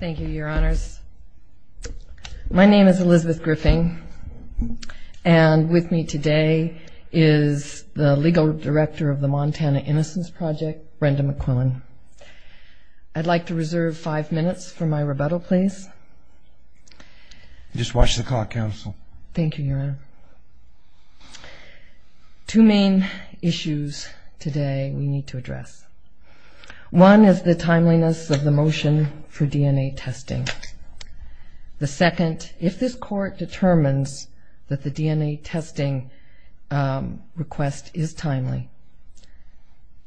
Thank you, your honors. My name is Elizabeth Griffin, and with me today is the legal director of the Montana Innocence Project, Brenda McQuillan. I'd like to reserve five minutes for my rebuttal, please. Just watch the clock, counsel. Thank you, your honor. Two main issues today we need to address. One is the timeliness of the motion for DNA testing. The second, if this court determines that the DNA testing request is timely,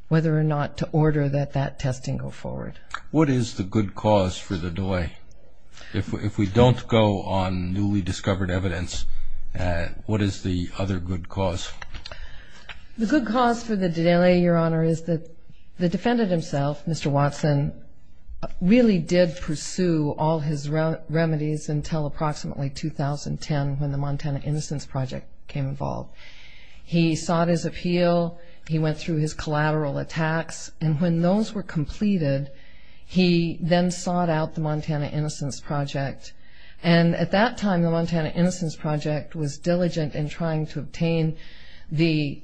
whether or not to order that that testing go forward. What is the good cause for the delay? If we don't go on newly discovered evidence, what is the other good cause? The good cause for the delay, your honor, is that the defendant himself, Mr. Watson, really did pursue all his remedies until approximately 2010 when the Montana Innocence Project came involved. He sought his appeal, he went through his collateral attacks, and when those were completed, he then sought out the Montana Innocence Project. At that time, the Montana Innocence Project was diligent in trying to obtain the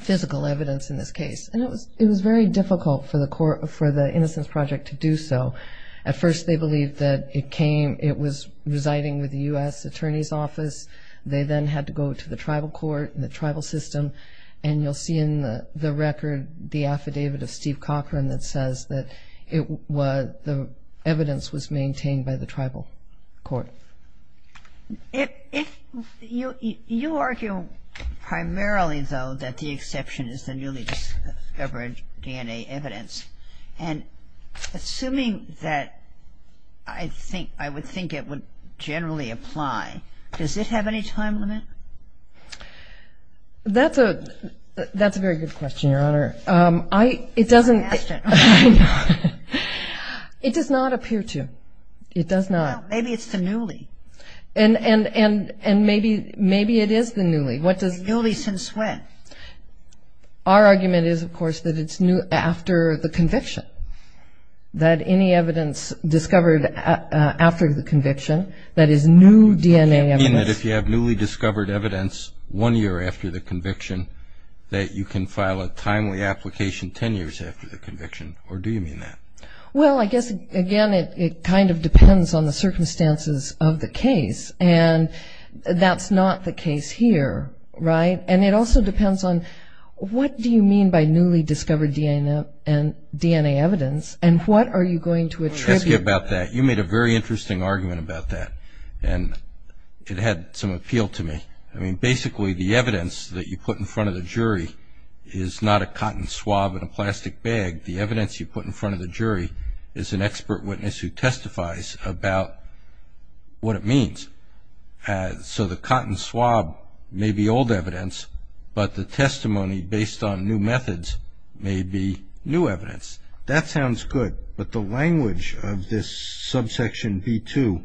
physical evidence in this case. It was very difficult for the innocence project to do so. At first, they believed that it was residing with the U.S. Attorney's Office. They then had to go to the tribal court and the tribal system. And you'll see in the record the affidavit of Steve Cochran that says that the evidence was maintained by the tribal court. If you argue primarily, though, that the exception is the newly discovered DNA evidence, and assuming that I would think it would generally apply, does this have any time limit? That's a very good question, your honor. I asked it. I know. It does not appear to. It does not. Well, maybe it's the newly. And maybe it is the newly. The newly since when? Our argument is, of course, that it's after the conviction. That any evidence discovered after the conviction that is new DNA evidence Does that mean that if you have newly discovered evidence one year after the conviction that you can file a timely application ten years after the conviction, or do you mean that? Well, I guess, again, it kind of depends on the circumstances of the case. And that's not the case here, right? And it also depends on what do you mean by newly discovered DNA evidence and what are you going to attribute? You made a very interesting argument about that, and it had some appeal to me. I mean, basically, the evidence that you put in front of the jury is not a cotton swab in a plastic bag. The evidence you put in front of the jury is an expert witness who testifies about what it means. So the cotton swab may be old evidence, but the testimony based on new methods may be new evidence. That sounds good, but the language of this subsection B2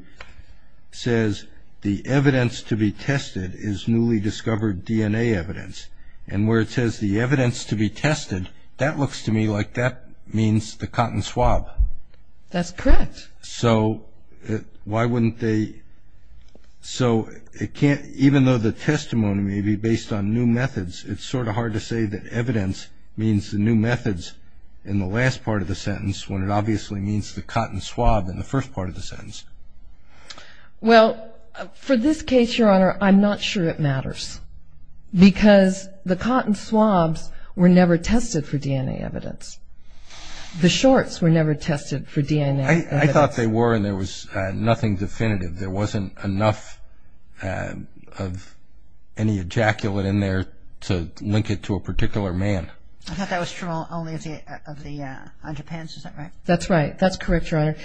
says the evidence to be tested is newly discovered DNA evidence. And where it says the evidence to be tested, that looks to me like that means the cotton swab. That's correct. So why wouldn't they – so it can't – even though the testimony may be based on new methods, it's sort of hard to say that evidence means the new methods in the last part of the sentence when it obviously means the cotton swab in the first part of the sentence. Well, for this case, Your Honor, I'm not sure it matters because the cotton swabs were never tested for DNA evidence. The shorts were never tested for DNA evidence. I thought they were, and there was nothing definitive. There wasn't enough of any ejaculate in there to link it to a particular man. I thought that was true only of the underpants. Is that right? That's right. That's correct, Your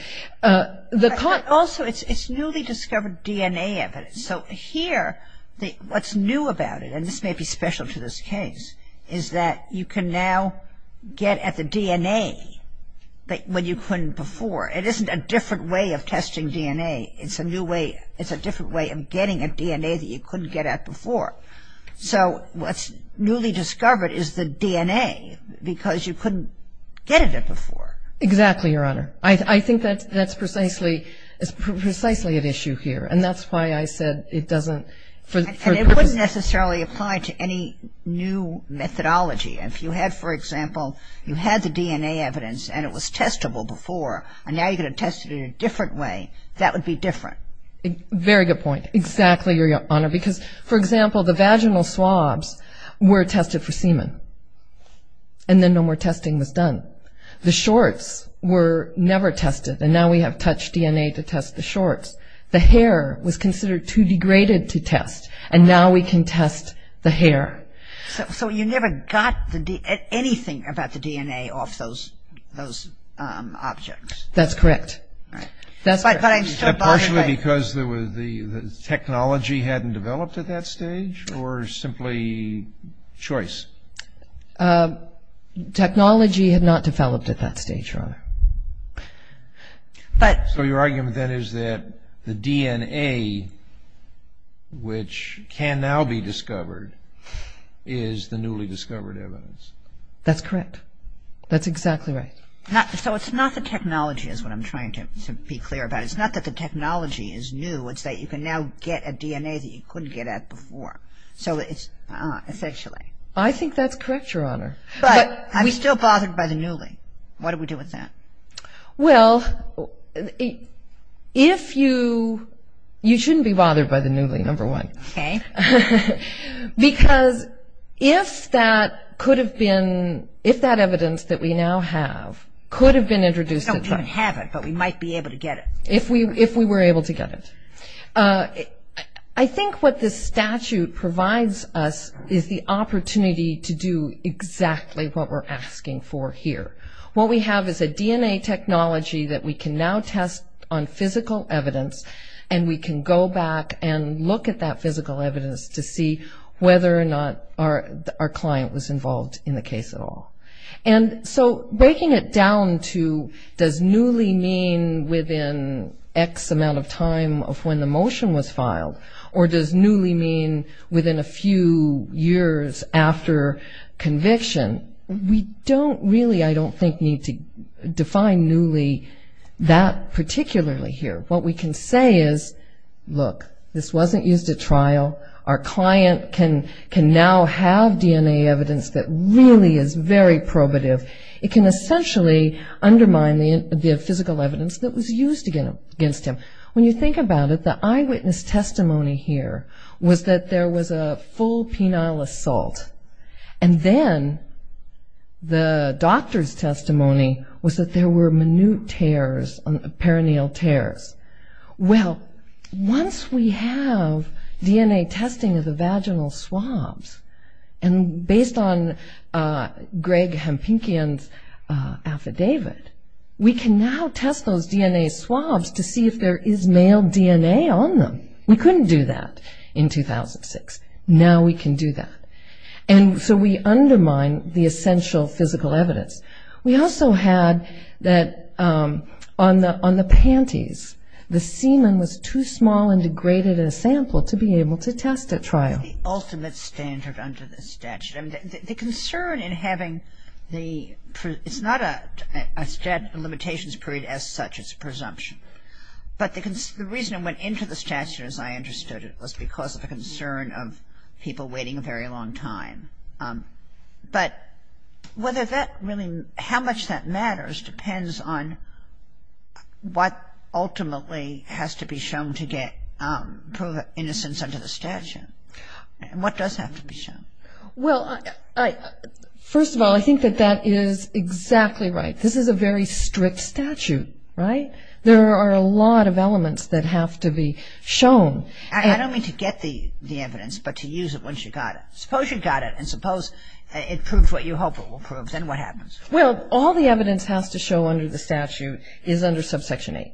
Honor. Also, it's newly discovered DNA evidence. So here what's new about it, and this may be special to this case, is that you can now get at the DNA when you couldn't before. It isn't a different way of testing DNA. It's a new way – it's a different way of getting at DNA that you couldn't get at before. So what's newly discovered is the DNA because you couldn't get at it before. Exactly, Your Honor. I think that's precisely an issue here, and that's why I said it doesn't – And it wouldn't necessarily apply to any new methodology. If you had, for example, you had the DNA evidence and it was testable before, and now you're going to test it in a different way, that would be different. Very good point. Exactly, Your Honor, because, for example, the vaginal swabs were tested for semen, and then no more testing was done. The shorts were never tested, and now we have touch DNA to test the shorts. The hair was considered too degraded to test, and now we can test the hair. So you never got anything about the DNA off those objects. That's correct. Partially because the technology hadn't developed at that stage, or simply choice? Technology had not developed at that stage, Your Honor. So your argument, then, is that the DNA, which can now be discovered, is the newly discovered evidence? That's correct. That's exactly right. So it's not the technology is what I'm trying to be clear about. It's not that the technology is new. It's that you can now get a DNA that you couldn't get at before. So it's essentially. But we're still bothered by the newly. What do we do with that? Well, you shouldn't be bothered by the newly, number one. Okay. Because if that evidence that we now have could have been introduced. We don't even have it, but we might be able to get it. If we were able to get it. I think what this statute provides us is the opportunity to do exactly what we're asking for here. What we have is a DNA technology that we can now test on physical evidence, and we can go back and look at that physical evidence to see whether or not our client was involved in the case at all. And so breaking it down to does newly mean within X amount of time of when the motion was filed, or does newly mean within a few years after conviction. We don't really, I don't think, need to define newly that particularly here. What we can say is, look, this wasn't used at trial. Our client can now have DNA evidence that really is very probative. It can essentially undermine the physical evidence that was used against him. When you think about it, the eyewitness testimony here was that there was a full penile assault, and then the doctor's testimony was that there were minute tears, perineal tears. Well, once we have DNA testing of the vaginal swabs, and based on Greg Hampinkian's affidavit, we can now test those DNA swabs to see if there is male DNA on them. We couldn't do that in 2006. Now we can do that. And so we undermine the essential physical evidence. We also had that on the panties, the semen was too small and degraded in a sample to be able to test at trial. The ultimate standard under the statute. I mean, the concern in having the, it's not a limitations period as such, it's a presumption. But the reason it went into the statute as I understood it was because of the concern of people waiting a very long time. But whether that really, how much that matters depends on what ultimately has to be shown to get proven innocence under the statute. And what does have to be shown? Well, first of all, I think that that is exactly right. This is a very strict statute, right? There are a lot of elements that have to be shown. I don't mean to get the evidence, but to use it once you've got it. Suppose you've got it, and suppose it proves what you hope it will prove, then what happens? Well, all the evidence has to show under the statute is under subsection 8.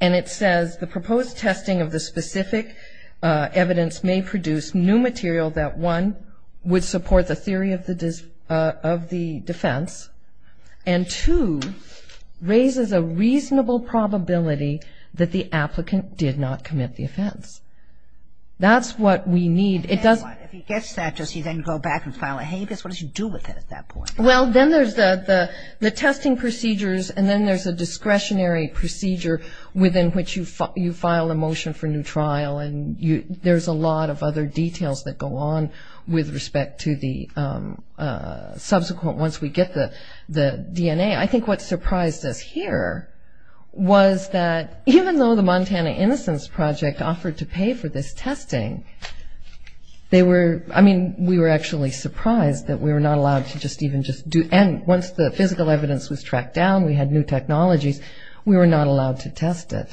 And it says the proposed testing of the specific evidence may produce new material that, one, would support the theory of the defense, and two, raises a reasonable probability that the applicant did not commit the offense. That's what we need. If he gets that, does he then go back and file a habeas? What does he do with it at that point? Well, then there's the testing procedures, and then there's a discretionary procedure within which you file a motion for new trial. And there's a lot of other details that go on with respect to the subsequent, once we get the DNA. I think what surprised us here was that even though the Montana Innocence Project offered to pay for this testing, they were, I mean, we were actually surprised that we were not allowed to just even just do, and once the physical evidence was tracked down, we had new technologies, we were not allowed to test it.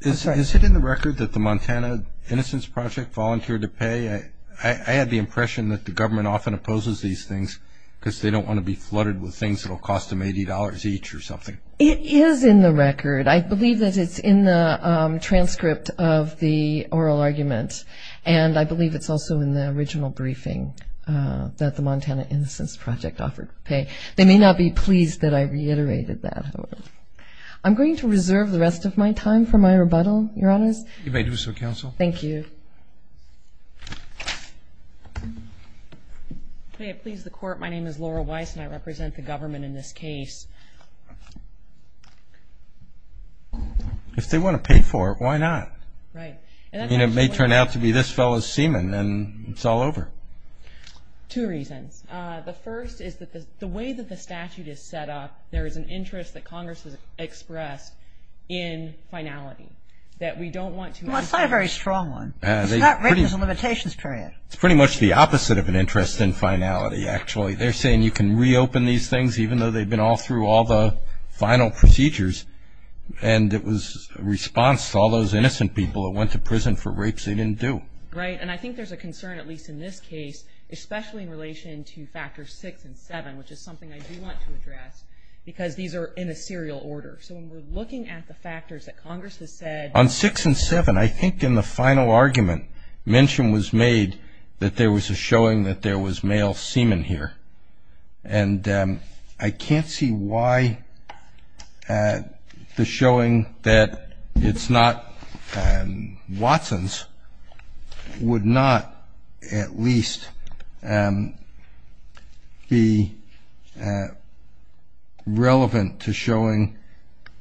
Is it in the record that the Montana Innocence Project volunteered to pay? I had the impression that the government often opposes these things because they don't want to be flooded with things that will cost them $80 each or something. It is in the record. I believe that it's in the transcript of the oral argument, and I believe it's also in the original briefing that the Montana Innocence Project offered to pay. They may not be pleased that I reiterated that, however. I'm going to reserve the rest of my time for my rebuttal, Your Honors. You may do so, Counsel. Thank you. May it please the Court, my name is Laura Weiss, and I represent the government in this case. If they want to pay for it, why not? Right. I mean, it may turn out to be this fellow's semen, and it's all over. Two reasons. The first is that the way that the statute is set up, there is an interest that Congress has expressed in finality, that we don't want to Well, it's not a very strong one. It's not written as a limitations period. It's pretty much the opposite of an interest in finality, actually. They're saying you can reopen these things, even though they've been all through all the final procedures, and it was a response to all those innocent people that went to prison for rapes they didn't do. Right, and I think there's a concern, at least in this case, especially in relation to factors six and seven, which is something I do want to address, because these are in a serial order. So when we're looking at the factors that Congress has said On six and seven, I think in the final argument, mention was made that there was a showing that there was male semen here, and I can't see why the showing that it's not Watson's would not at least be relevant to showing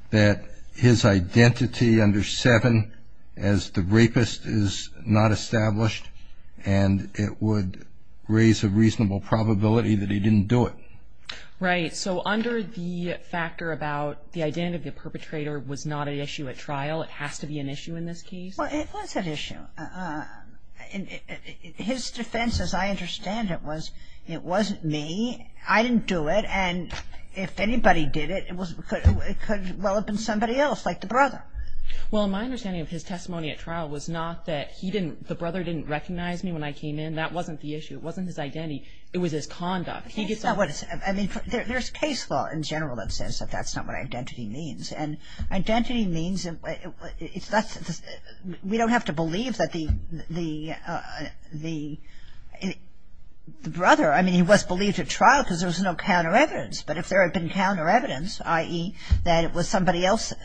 that his identity under seven as the rapist is not established, and it would raise a reasonable probability that he didn't do it. Right, so under the factor about the identity of the perpetrator was not an issue at trial, it has to be an issue in this case? Well, it was an issue. His defense, as I understand it, was it wasn't me, I didn't do it, and if anybody did it, it could well have been somebody else, like the brother. Well, my understanding of his testimony at trial was not that he didn't, the brother didn't recognize me when I came in, that wasn't the issue, it wasn't his identity, it was his conduct. I mean, there's case law in general that says that that's not what identity means, and identity means, we don't have to believe that the brother, I mean, he was believed at trial because there was no counter evidence, but if there had been counter evidence, i.e., that it was somebody else's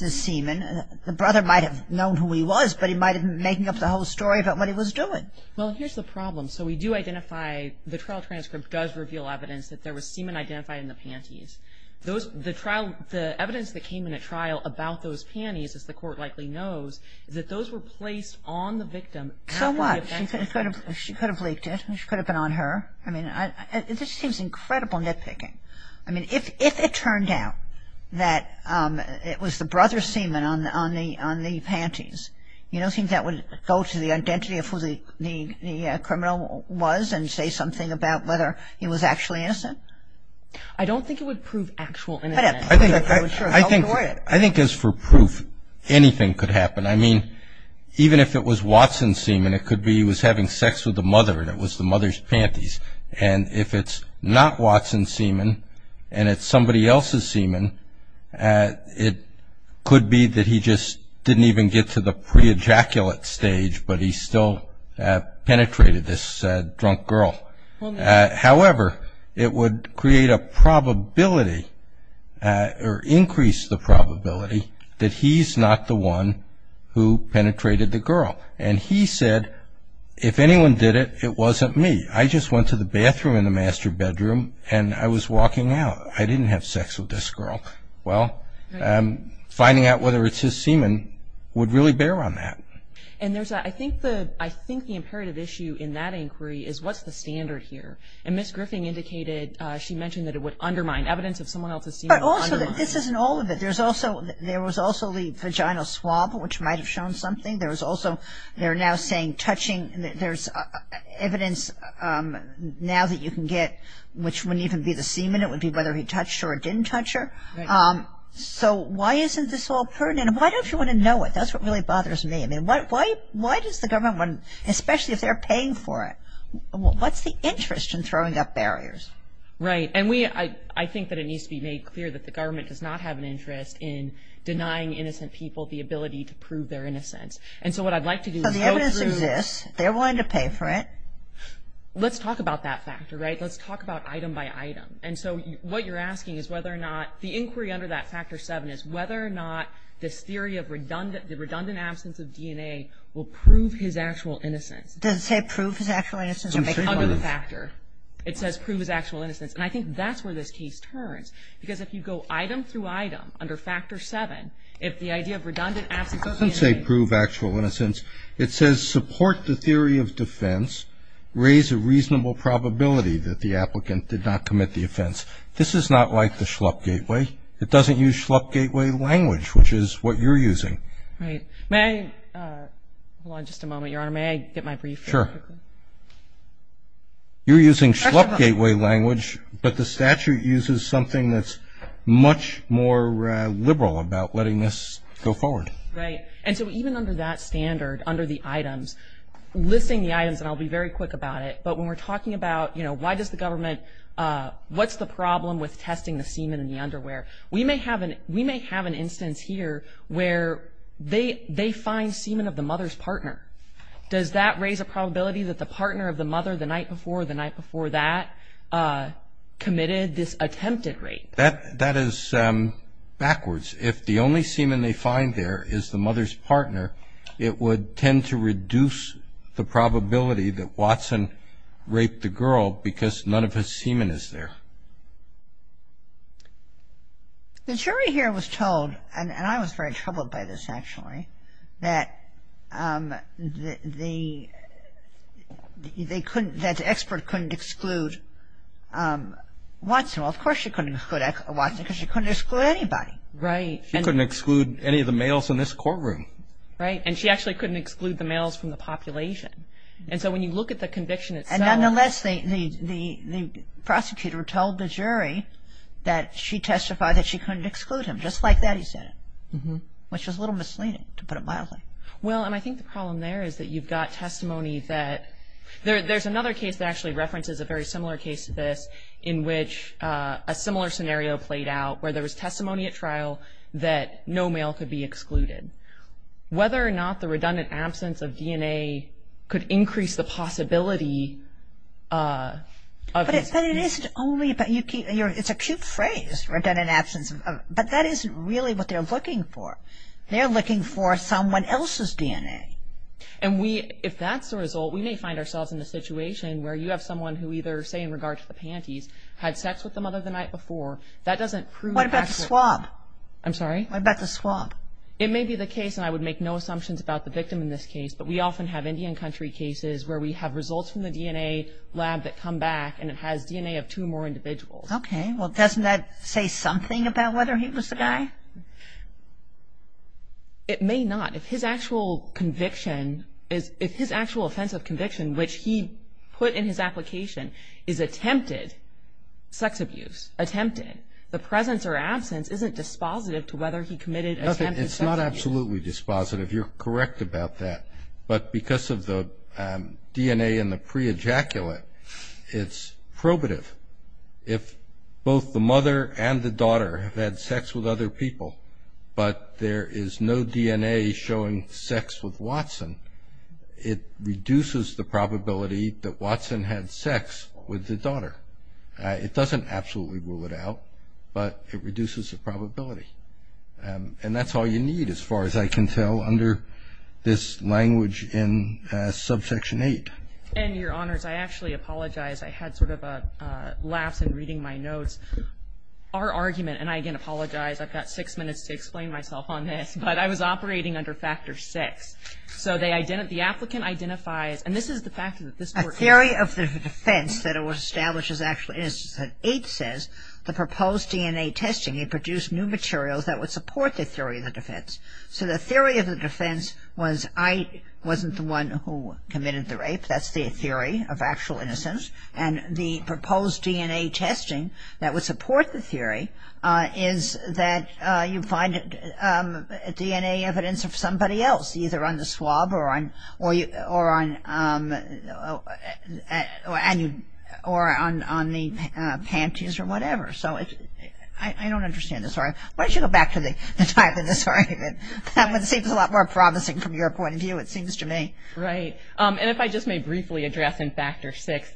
semen, the brother might have known who he was, but he might have been making up the whole story about what he was doing. Well, here's the problem. So we do identify, the trial transcript does reveal evidence that there was semen identified in the panties. The evidence that came in at trial about those panties, as the court likely knows, is that those were placed on the victim. So what? She could have leaked it, she could have been on her. I mean, this seems incredible nitpicking. I mean, if it turned out that it was the brother's semen on the panties, you don't think that would go to the identity of who the criminal was and say something about whether he was actually innocent? I don't think it would prove actual innocence. I think as for proof, anything could happen. I mean, even if it was Watson's semen, it could be he was having sex with the mother and it was the mother's panties. And if it's not Watson's semen and it's somebody else's semen, it could be that he just didn't even get to the pre-ejaculate stage, but he still penetrated this drunk girl. However, it would create a probability or increase the probability that he's not the one who penetrated the girl. And he said, if anyone did it, it wasn't me. I just went to the bathroom in the master bedroom and I was walking out. I didn't have sex with this girl. Well, finding out whether it's his semen would really bear on that. And I think the imperative issue in that inquiry is what's the standard here? And Ms. Griffin indicated she mentioned that it would undermine evidence if someone else's semen was undermined. But also, this isn't all of it. There was also the vaginal swab, which might have shown something. There was also they're now saying touching. There's evidence now that you can get which wouldn't even be the semen. It would be whether he touched her or didn't touch her. So why isn't this all pertinent? Why don't you want to know it? That's what really bothers me. I mean, why does the government, especially if they're paying for it, what's the interest in throwing up barriers? Right. And I think that it needs to be made clear that the government does not have an interest in denying innocent people the ability to prove their innocence. And so what I'd like to do is go through. So the evidence exists. They're willing to pay for it. Let's talk about that factor, right? Let's talk about item by item. And so what you're asking is whether or not the inquiry under that factor 7 is whether or not this theory of the redundant absence of DNA will prove his actual innocence. Does it say prove his actual innocence? Under the factor. It says prove his actual innocence. And I think that's where this case turns. Because if you go item through item under factor 7, if the idea of redundant absence of DNA. It doesn't say prove actual innocence. It says support the theory of defense, raise a reasonable probability that the applicant did not commit the offense. This is not like the Schlupp gateway. It doesn't use Schlupp gateway language, which is what you're using. Right. May I – hold on just a moment, Your Honor. May I get my brief? Sure. You're using Schlupp gateway language, but the statute uses something that's much more liberal about letting this go forward. Right. And so even under that standard, under the items, listing the items, and I'll be very quick about it, but when we're talking about, you know, why does the government – what's the problem with testing the semen in the underwear? We may have an instance here where they find semen of the mother's partner. Does that raise a probability that the partner of the mother the night before or the night before that committed this attempted rape? That is backwards. If the only semen they find there is the mother's partner, it would tend to reduce the probability that Watson raped the girl because none of his semen is there. The jury here was told, and I was very troubled by this actually, that they couldn't – that the expert couldn't exclude Watson. Well, of course she couldn't exclude Watson because she couldn't exclude anybody. Right. She couldn't exclude any of the males in this courtroom. Right. And she actually couldn't exclude the males from the population. And so when you look at the conviction itself – that she testified that she couldn't exclude him. Just like that he said it, which is a little misleading, to put it mildly. Well, and I think the problem there is that you've got testimony that – there's another case that actually references a very similar case to this in which a similar scenario played out where there was testimony at trial that no male could be excluded. Whether or not the redundant absence of DNA could increase the possibility of – But it isn't only – it's a cute phrase, redundant absence. But that isn't really what they're looking for. They're looking for someone else's DNA. And if that's the result, we may find ourselves in a situation where you have someone who either, say in regard to the panties, had sex with the mother the night before. That doesn't prove – What about the swab? I'm sorry? What about the swab? It may be the case, and I would make no assumptions about the victim in this case, but we often have Indian country cases where we have results from the DNA lab that come back and it has DNA of two or more individuals. Okay. Well, doesn't that say something about whether he was the guy? It may not. If his actual conviction is – if his actual offense of conviction, which he put in his application, is attempted sex abuse, attempted, the presence or absence isn't dispositive to whether he committed attempted sex abuse. It's not absolutely dispositive. You're correct about that. But because of the DNA in the pre-ejaculate, it's probative. If both the mother and the daughter have had sex with other people, but there is no DNA showing sex with Watson, it reduces the probability that Watson had sex with the daughter. It doesn't absolutely rule it out, but it reduces the probability. And that's all you need, as far as I can tell, under this language in subsection 8. And, Your Honors, I actually apologize. I had sort of a lapse in reading my notes. Our argument – and I again apologize. I've got six minutes to explain myself on this, but I was operating under factor 6. So the applicant identifies – and this is the fact that this court – A theory of the defense that was established is actually – is that 8 says the proposed DNA testing produced new materials that would support the theory of the defense. So the theory of the defense was I wasn't the one who committed the rape. That's the theory of actual innocence. And the proposed DNA testing that would support the theory is that you find DNA evidence of somebody else, either on the swab or on the panties or whatever. So I don't understand this argument. Why don't you go back to the time of this argument? That one seems a lot more promising from your point of view, it seems to me. Right. And if I just may briefly address in factor 6,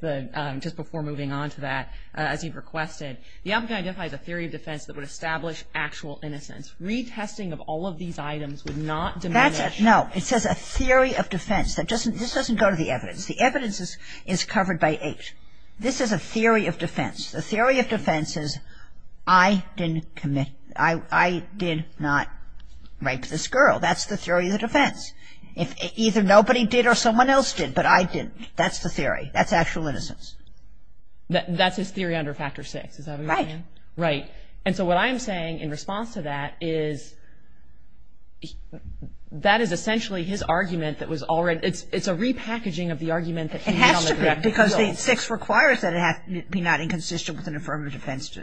just before moving on to that, as you've requested, the applicant identifies a theory of defense that would establish actual innocence. Retesting of all of these items would not diminish – No. It says a theory of defense. This doesn't go to the evidence. The evidence is covered by 8. This is a theory of defense. The theory of defense is I didn't commit – I did not rape this girl. That's the theory of the defense. Either nobody did or someone else did, but I didn't. That's the theory. That's actual innocence. That's his theory under factor 6, is that what you're saying? Right. Right. And so what I am saying in response to that is that is essentially his argument that was already – it's a repackaging of the argument that he made on the direct appeal. Because 8.6 requires that it be not inconsistent with an affirmative defense.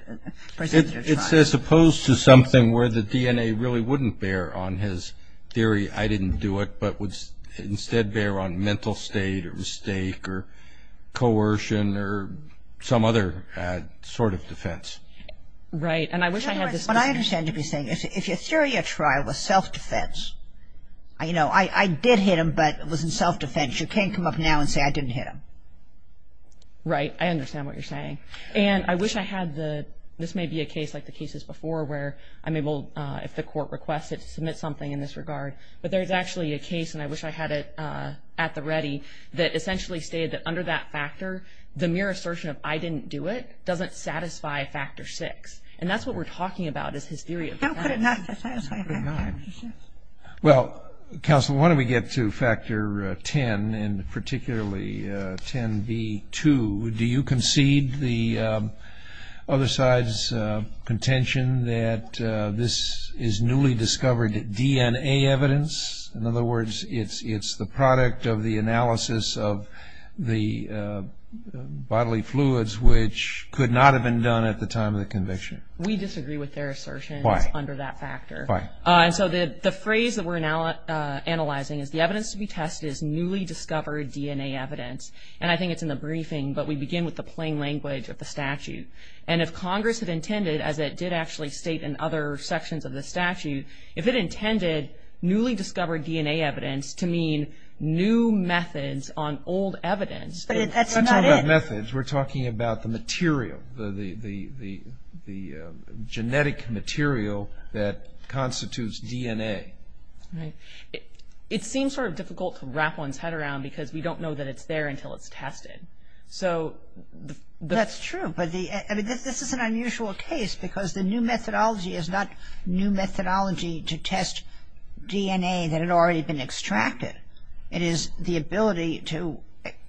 It says opposed to something where the DNA really wouldn't bear on his theory, I didn't do it, but would instead bear on mental state or mistake or coercion or some other sort of defense. Right. And I wish I had this – What I understand to be saying is if your theory of trial was self-defense, you know, I did hit him, but it was in self-defense. You can't come up now and say I didn't hit him. Right. I understand what you're saying. And I wish I had the – this may be a case like the cases before where I'm able, if the court requests it, to submit something in this regard. But there's actually a case, and I wish I had it at the ready, that essentially stated that under that factor, the mere assertion of I didn't do it doesn't satisfy factor 6. And that's what we're talking about is his theory of defense. I put it not to satisfy factor 6. Well, counsel, why don't we get to factor 10, and particularly 10b-2. Do you concede the other side's contention that this is newly discovered DNA evidence? In other words, it's the product of the analysis of the bodily fluids, which could not have been done at the time of the conviction. We disagree with their assertion. Why? Under that factor. Why? And so the phrase that we're now analyzing is, the evidence to be tested is newly discovered DNA evidence. And I think it's in the briefing, but we begin with the plain language of the statute. And if Congress had intended, as it did actually state in other sections of the statute, if it intended newly discovered DNA evidence to mean new methods on old evidence. But that's not it. By new methods, we're talking about the material, the genetic material that constitutes DNA. Right. It seems sort of difficult to wrap one's head around, because we don't know that it's there until it's tested. That's true. But this is an unusual case, because the new methodology is not new methodology to test DNA that had already been extracted. It is the ability to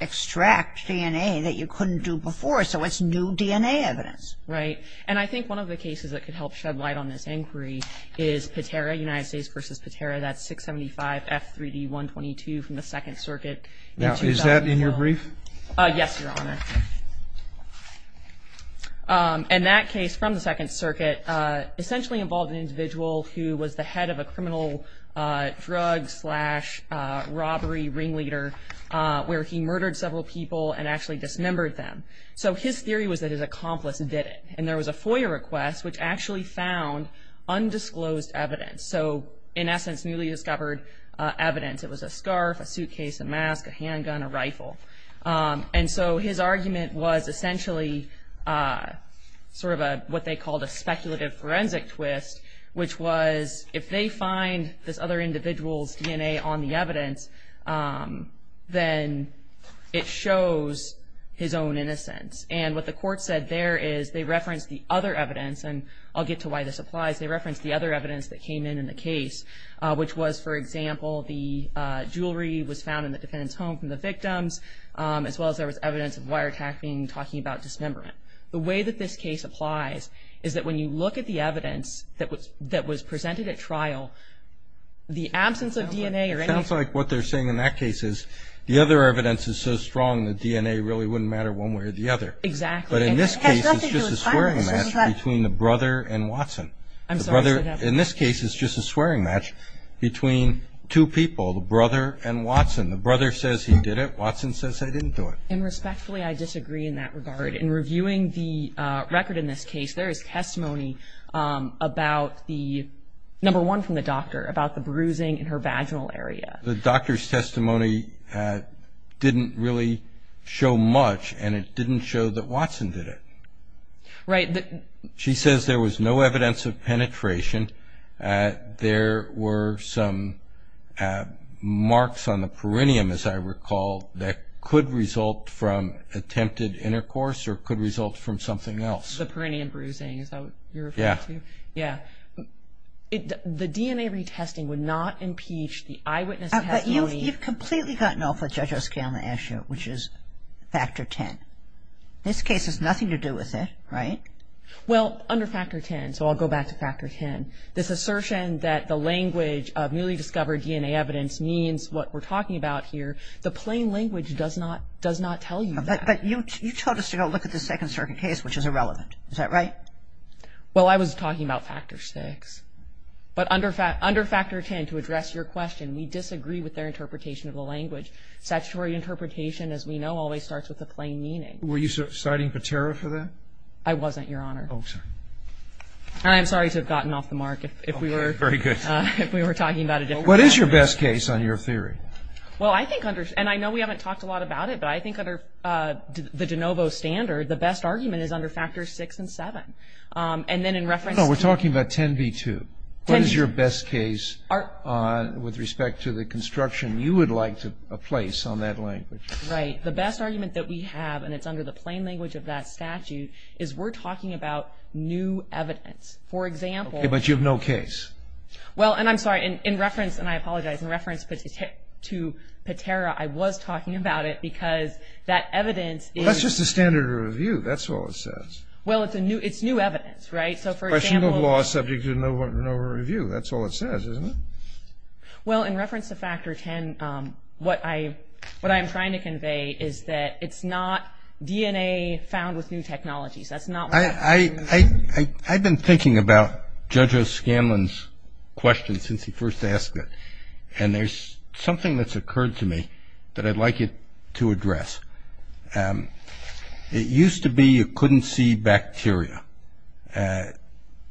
extract DNA that you couldn't do before, so it's new DNA evidence. Right. And I think one of the cases that could help shed light on this inquiry is Patera, United States v. Patera, that 675F3D122 from the Second Circuit. Now, is that in your brief? Yes, Your Honor. And that case from the Second Circuit essentially involved an individual who was the head of a criminal drug-slash-robbery ringleader where he murdered several people and actually dismembered them. So his theory was that his accomplice did it, and there was a FOIA request which actually found undisclosed evidence. So, in essence, newly discovered evidence. It was a scarf, a suitcase, a mask, a handgun, a rifle. And so his argument was essentially sort of what they called a speculative forensic twist, which was if they find this other individual's DNA on the evidence, then it shows his own innocence. And what the court said there is they referenced the other evidence, and I'll get to why this applies. They referenced the other evidence that came in in the case, which was, for example, the jewelry was found in the defendant's home from the victims, as well as there was evidence of wiretapping, talking about dismemberment. The way that this case applies is that when you look at the evidence that was presented at trial, the absence of DNA or anything. It sounds like what they're saying in that case is the other evidence is so strong that DNA really wouldn't matter one way or the other. Exactly. But in this case, it's just a swearing match between the brother and Watson. I'm sorry. In this case, it's just a swearing match between two people, the brother and Watson. The brother says he did it. Watson says they didn't do it. And respectfully, I disagree in that regard. In reviewing the record in this case, there is testimony about the number one from the doctor, about the bruising in her vaginal area. The doctor's testimony didn't really show much, and it didn't show that Watson did it. Right. She says there was no evidence of penetration. There were some marks on the perineum, as I recall, that could result from attempted intercourse or could result from something else. The perineum bruising, is that what you're referring to? Yeah. Yeah. The DNA retesting would not impeach the eyewitness testimony. But you've completely gotten off the judges scale last year, which is factor 10. This case has nothing to do with it, right? Well, under factor 10, so I'll go back to factor 10, this assertion that the language of newly discovered DNA evidence means what we're talking about here, the plain language does not tell you that. But you told us to go look at the Second Circuit case, which is irrelevant. Is that right? Well, I was talking about factor 6. But under factor 10, to address your question, we disagree with their interpretation of the language. Statutory interpretation, as we know, always starts with a plain meaning. Were you citing Patera for that? I wasn't, Your Honor. Oh, sorry. And I'm sorry to have gotten off the mark if we were talking about a different argument. What is your best case on your theory? Well, I think under – and I know we haven't talked a lot about it, but I think under the de novo standard, the best argument is under factors 6 and 7. And then in reference to – No, we're talking about 10b-2. What is your best case with respect to the construction you would like to place on that language? Right. The best argument that we have, and it's under the plain language of that statute, is we're talking about new evidence. For example – Okay. But you have no case. Well, and I'm sorry. In reference – and I apologize. In reference to Patera, I was talking about it because that evidence is – Well, that's just a standard review. That's all it says. Well, it's a new – it's new evidence. Right? So, for example – Questionable law subject to no review. That's all it says, isn't it? Well, in reference to factor 10, what I'm trying to convey is that it's not DNA found with new technologies. That's not what I'm – I've been thinking about Judge O'Scanlan's question since he first asked it, and there's something that's occurred to me that I'd like you to address. It used to be you couldn't see bacteria.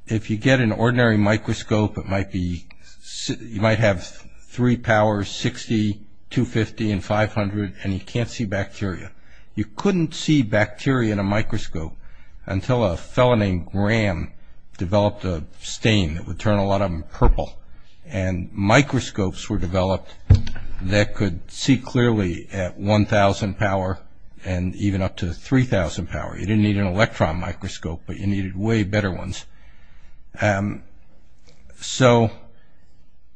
If you get an ordinary microscope, it might be – you might have three powers, 60, 250, and 500, and you can't see bacteria. You couldn't see bacteria in a microscope until a fellow named Graham developed a stain that would turn a lot of them purple, and microscopes were developed that could see clearly at 1,000 power and even up to 3,000 power. You didn't need an electron microscope, but you needed way better ones. So,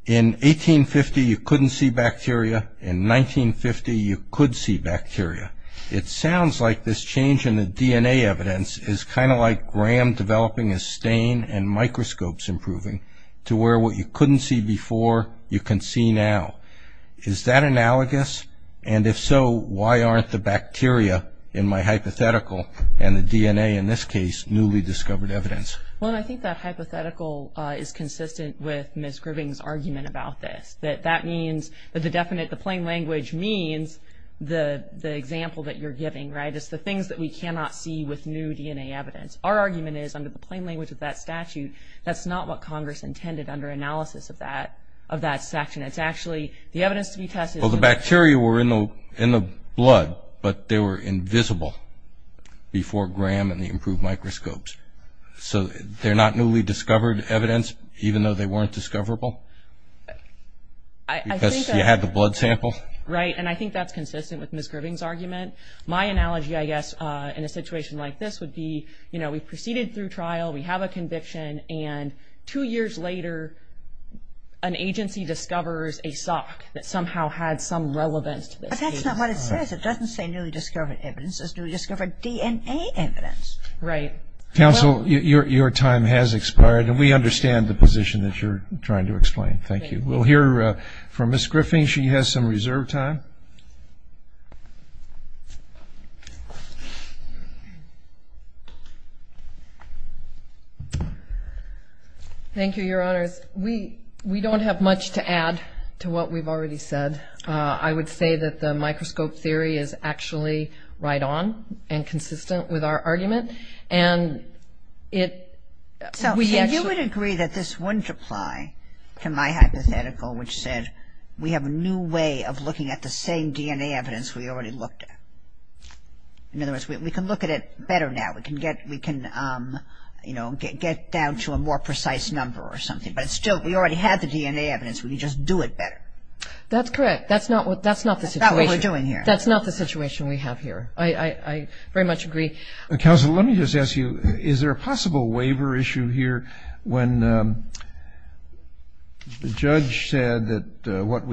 in 1850, you couldn't see bacteria. In 1950, you could see bacteria. It sounds like this change in the DNA evidence is kind of like Graham developing a stain and microscopes improving to where what you couldn't see before you can see now. Is that analogous? And if so, why aren't the bacteria in my hypothetical and the DNA in this case newly discovered evidence? Well, I think that hypothetical is consistent with Ms. Griving's argument about this, that that means that the definite – the plain language means the example that you're giving, right? It's the things that we cannot see with new DNA evidence. Our argument is, under the plain language of that statute, that's not what Congress intended under analysis of that section. It's actually the evidence to be tested. Well, the bacteria were in the blood, but they were invisible before Graham and the improved microscopes. So, they're not newly discovered evidence, even though they weren't discoverable? Because you had the blood sample? Right, and I think that's consistent with Ms. Griving's argument. My analogy, I guess, in a situation like this would be, you know, we proceeded through trial, we have a conviction, and two years later, an agency discovers a sock that somehow had some relevance to this case. But that's not what it says. It doesn't say newly discovered evidence. It says newly discovered DNA evidence. Right. Counsel, your time has expired, and we understand the position that you're trying to explain. Thank you. We'll hear from Ms. Griffing. She has some reserved time. Thank you, Your Honors. We don't have much to add to what we've already said. I would say that the microscope theory is actually right on and consistent with our argument. So, you would agree that this wouldn't apply to my hypothetical, which said we have a new way of looking at the same DNA evidence we already looked at. In other words, we can look at it better now. We can get down to a more precise number or something. But still, we already have the DNA evidence. We can just do it better. That's correct. That's not the situation. That's not what we're doing here. That's not the situation we have here. I very much agree. Counsel, let me just ask you, is there a possible waiver issue here? When the judge said that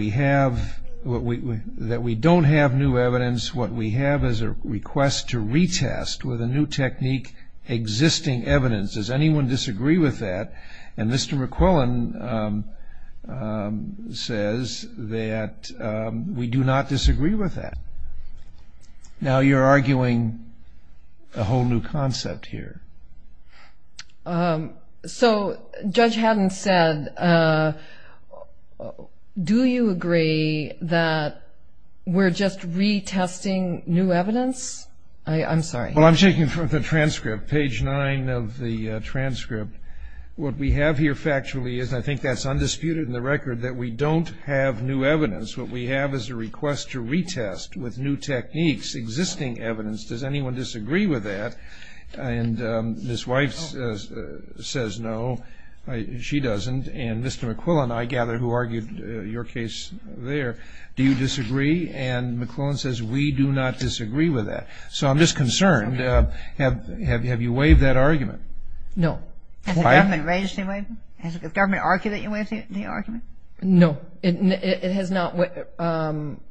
we don't have new evidence, what we have is a request to retest with a new technique existing evidence. Does anyone disagree with that? And Mr. McQuillan says that we do not disagree with that. Now you're arguing a whole new concept here. So, Judge Haddon said, do you agree that we're just retesting new evidence? I'm sorry. Well, I'm taking it from the transcript, page nine of the transcript. What we have here factually is, and I think that's undisputed in the record, that we don't have new evidence. What we have is a request to retest with new techniques existing evidence. Does anyone disagree with that? And Ms. Weiss says no. She doesn't. And Mr. McQuillan, I gather, who argued your case there, do you disagree? And McQuillan says we do not disagree with that. So I'm just concerned. Have you waived that argument? No. Has the government raised the waiver? Has the government argued that you waived the argument? No. It has not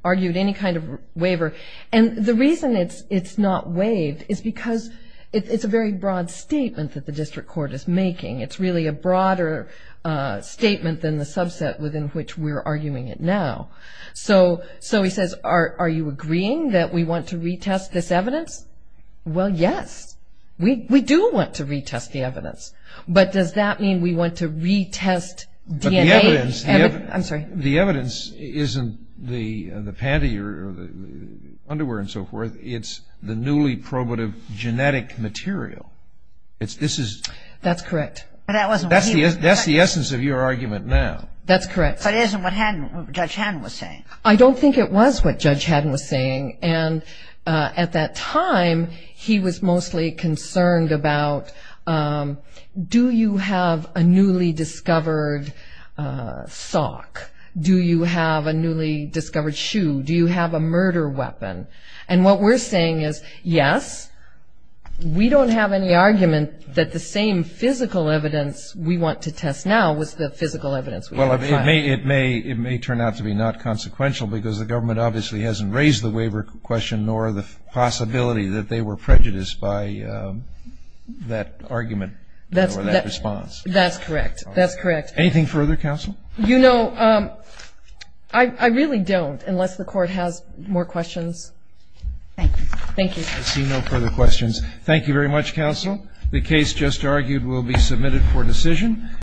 argued any kind of waiver. And the reason it's not waived is because it's a very broad statement that the district court is making. It's really a broader statement than the subset within which we're arguing it now. So he says, are you agreeing that we want to retest this evidence? Well, yes. We do want to retest the evidence. But does that mean we want to retest DNA? The evidence isn't the panty or the underwear and so forth. It's the newly probative genetic material. That's correct. That's the essence of your argument now. That's correct. But isn't what Judge Haddon was saying. I don't think it was what Judge Haddon was saying. And at that time, he was mostly concerned about, do you have a newly discovered sock? Do you have a newly discovered shoe? Do you have a murder weapon? And what we're saying is, yes. We don't have any argument that the same physical evidence we want to test now was the physical evidence. Well, it may turn out to be not consequential because the government obviously hasn't raised the waiver question nor the possibility that they were prejudiced by that argument or that response. That's correct. That's correct. Anything further, counsel? You know, I really don't, unless the court has more questions. Thank you. Thank you. I see no further questions. Thank you very much, counsel. The case just argued will be submitted for decision.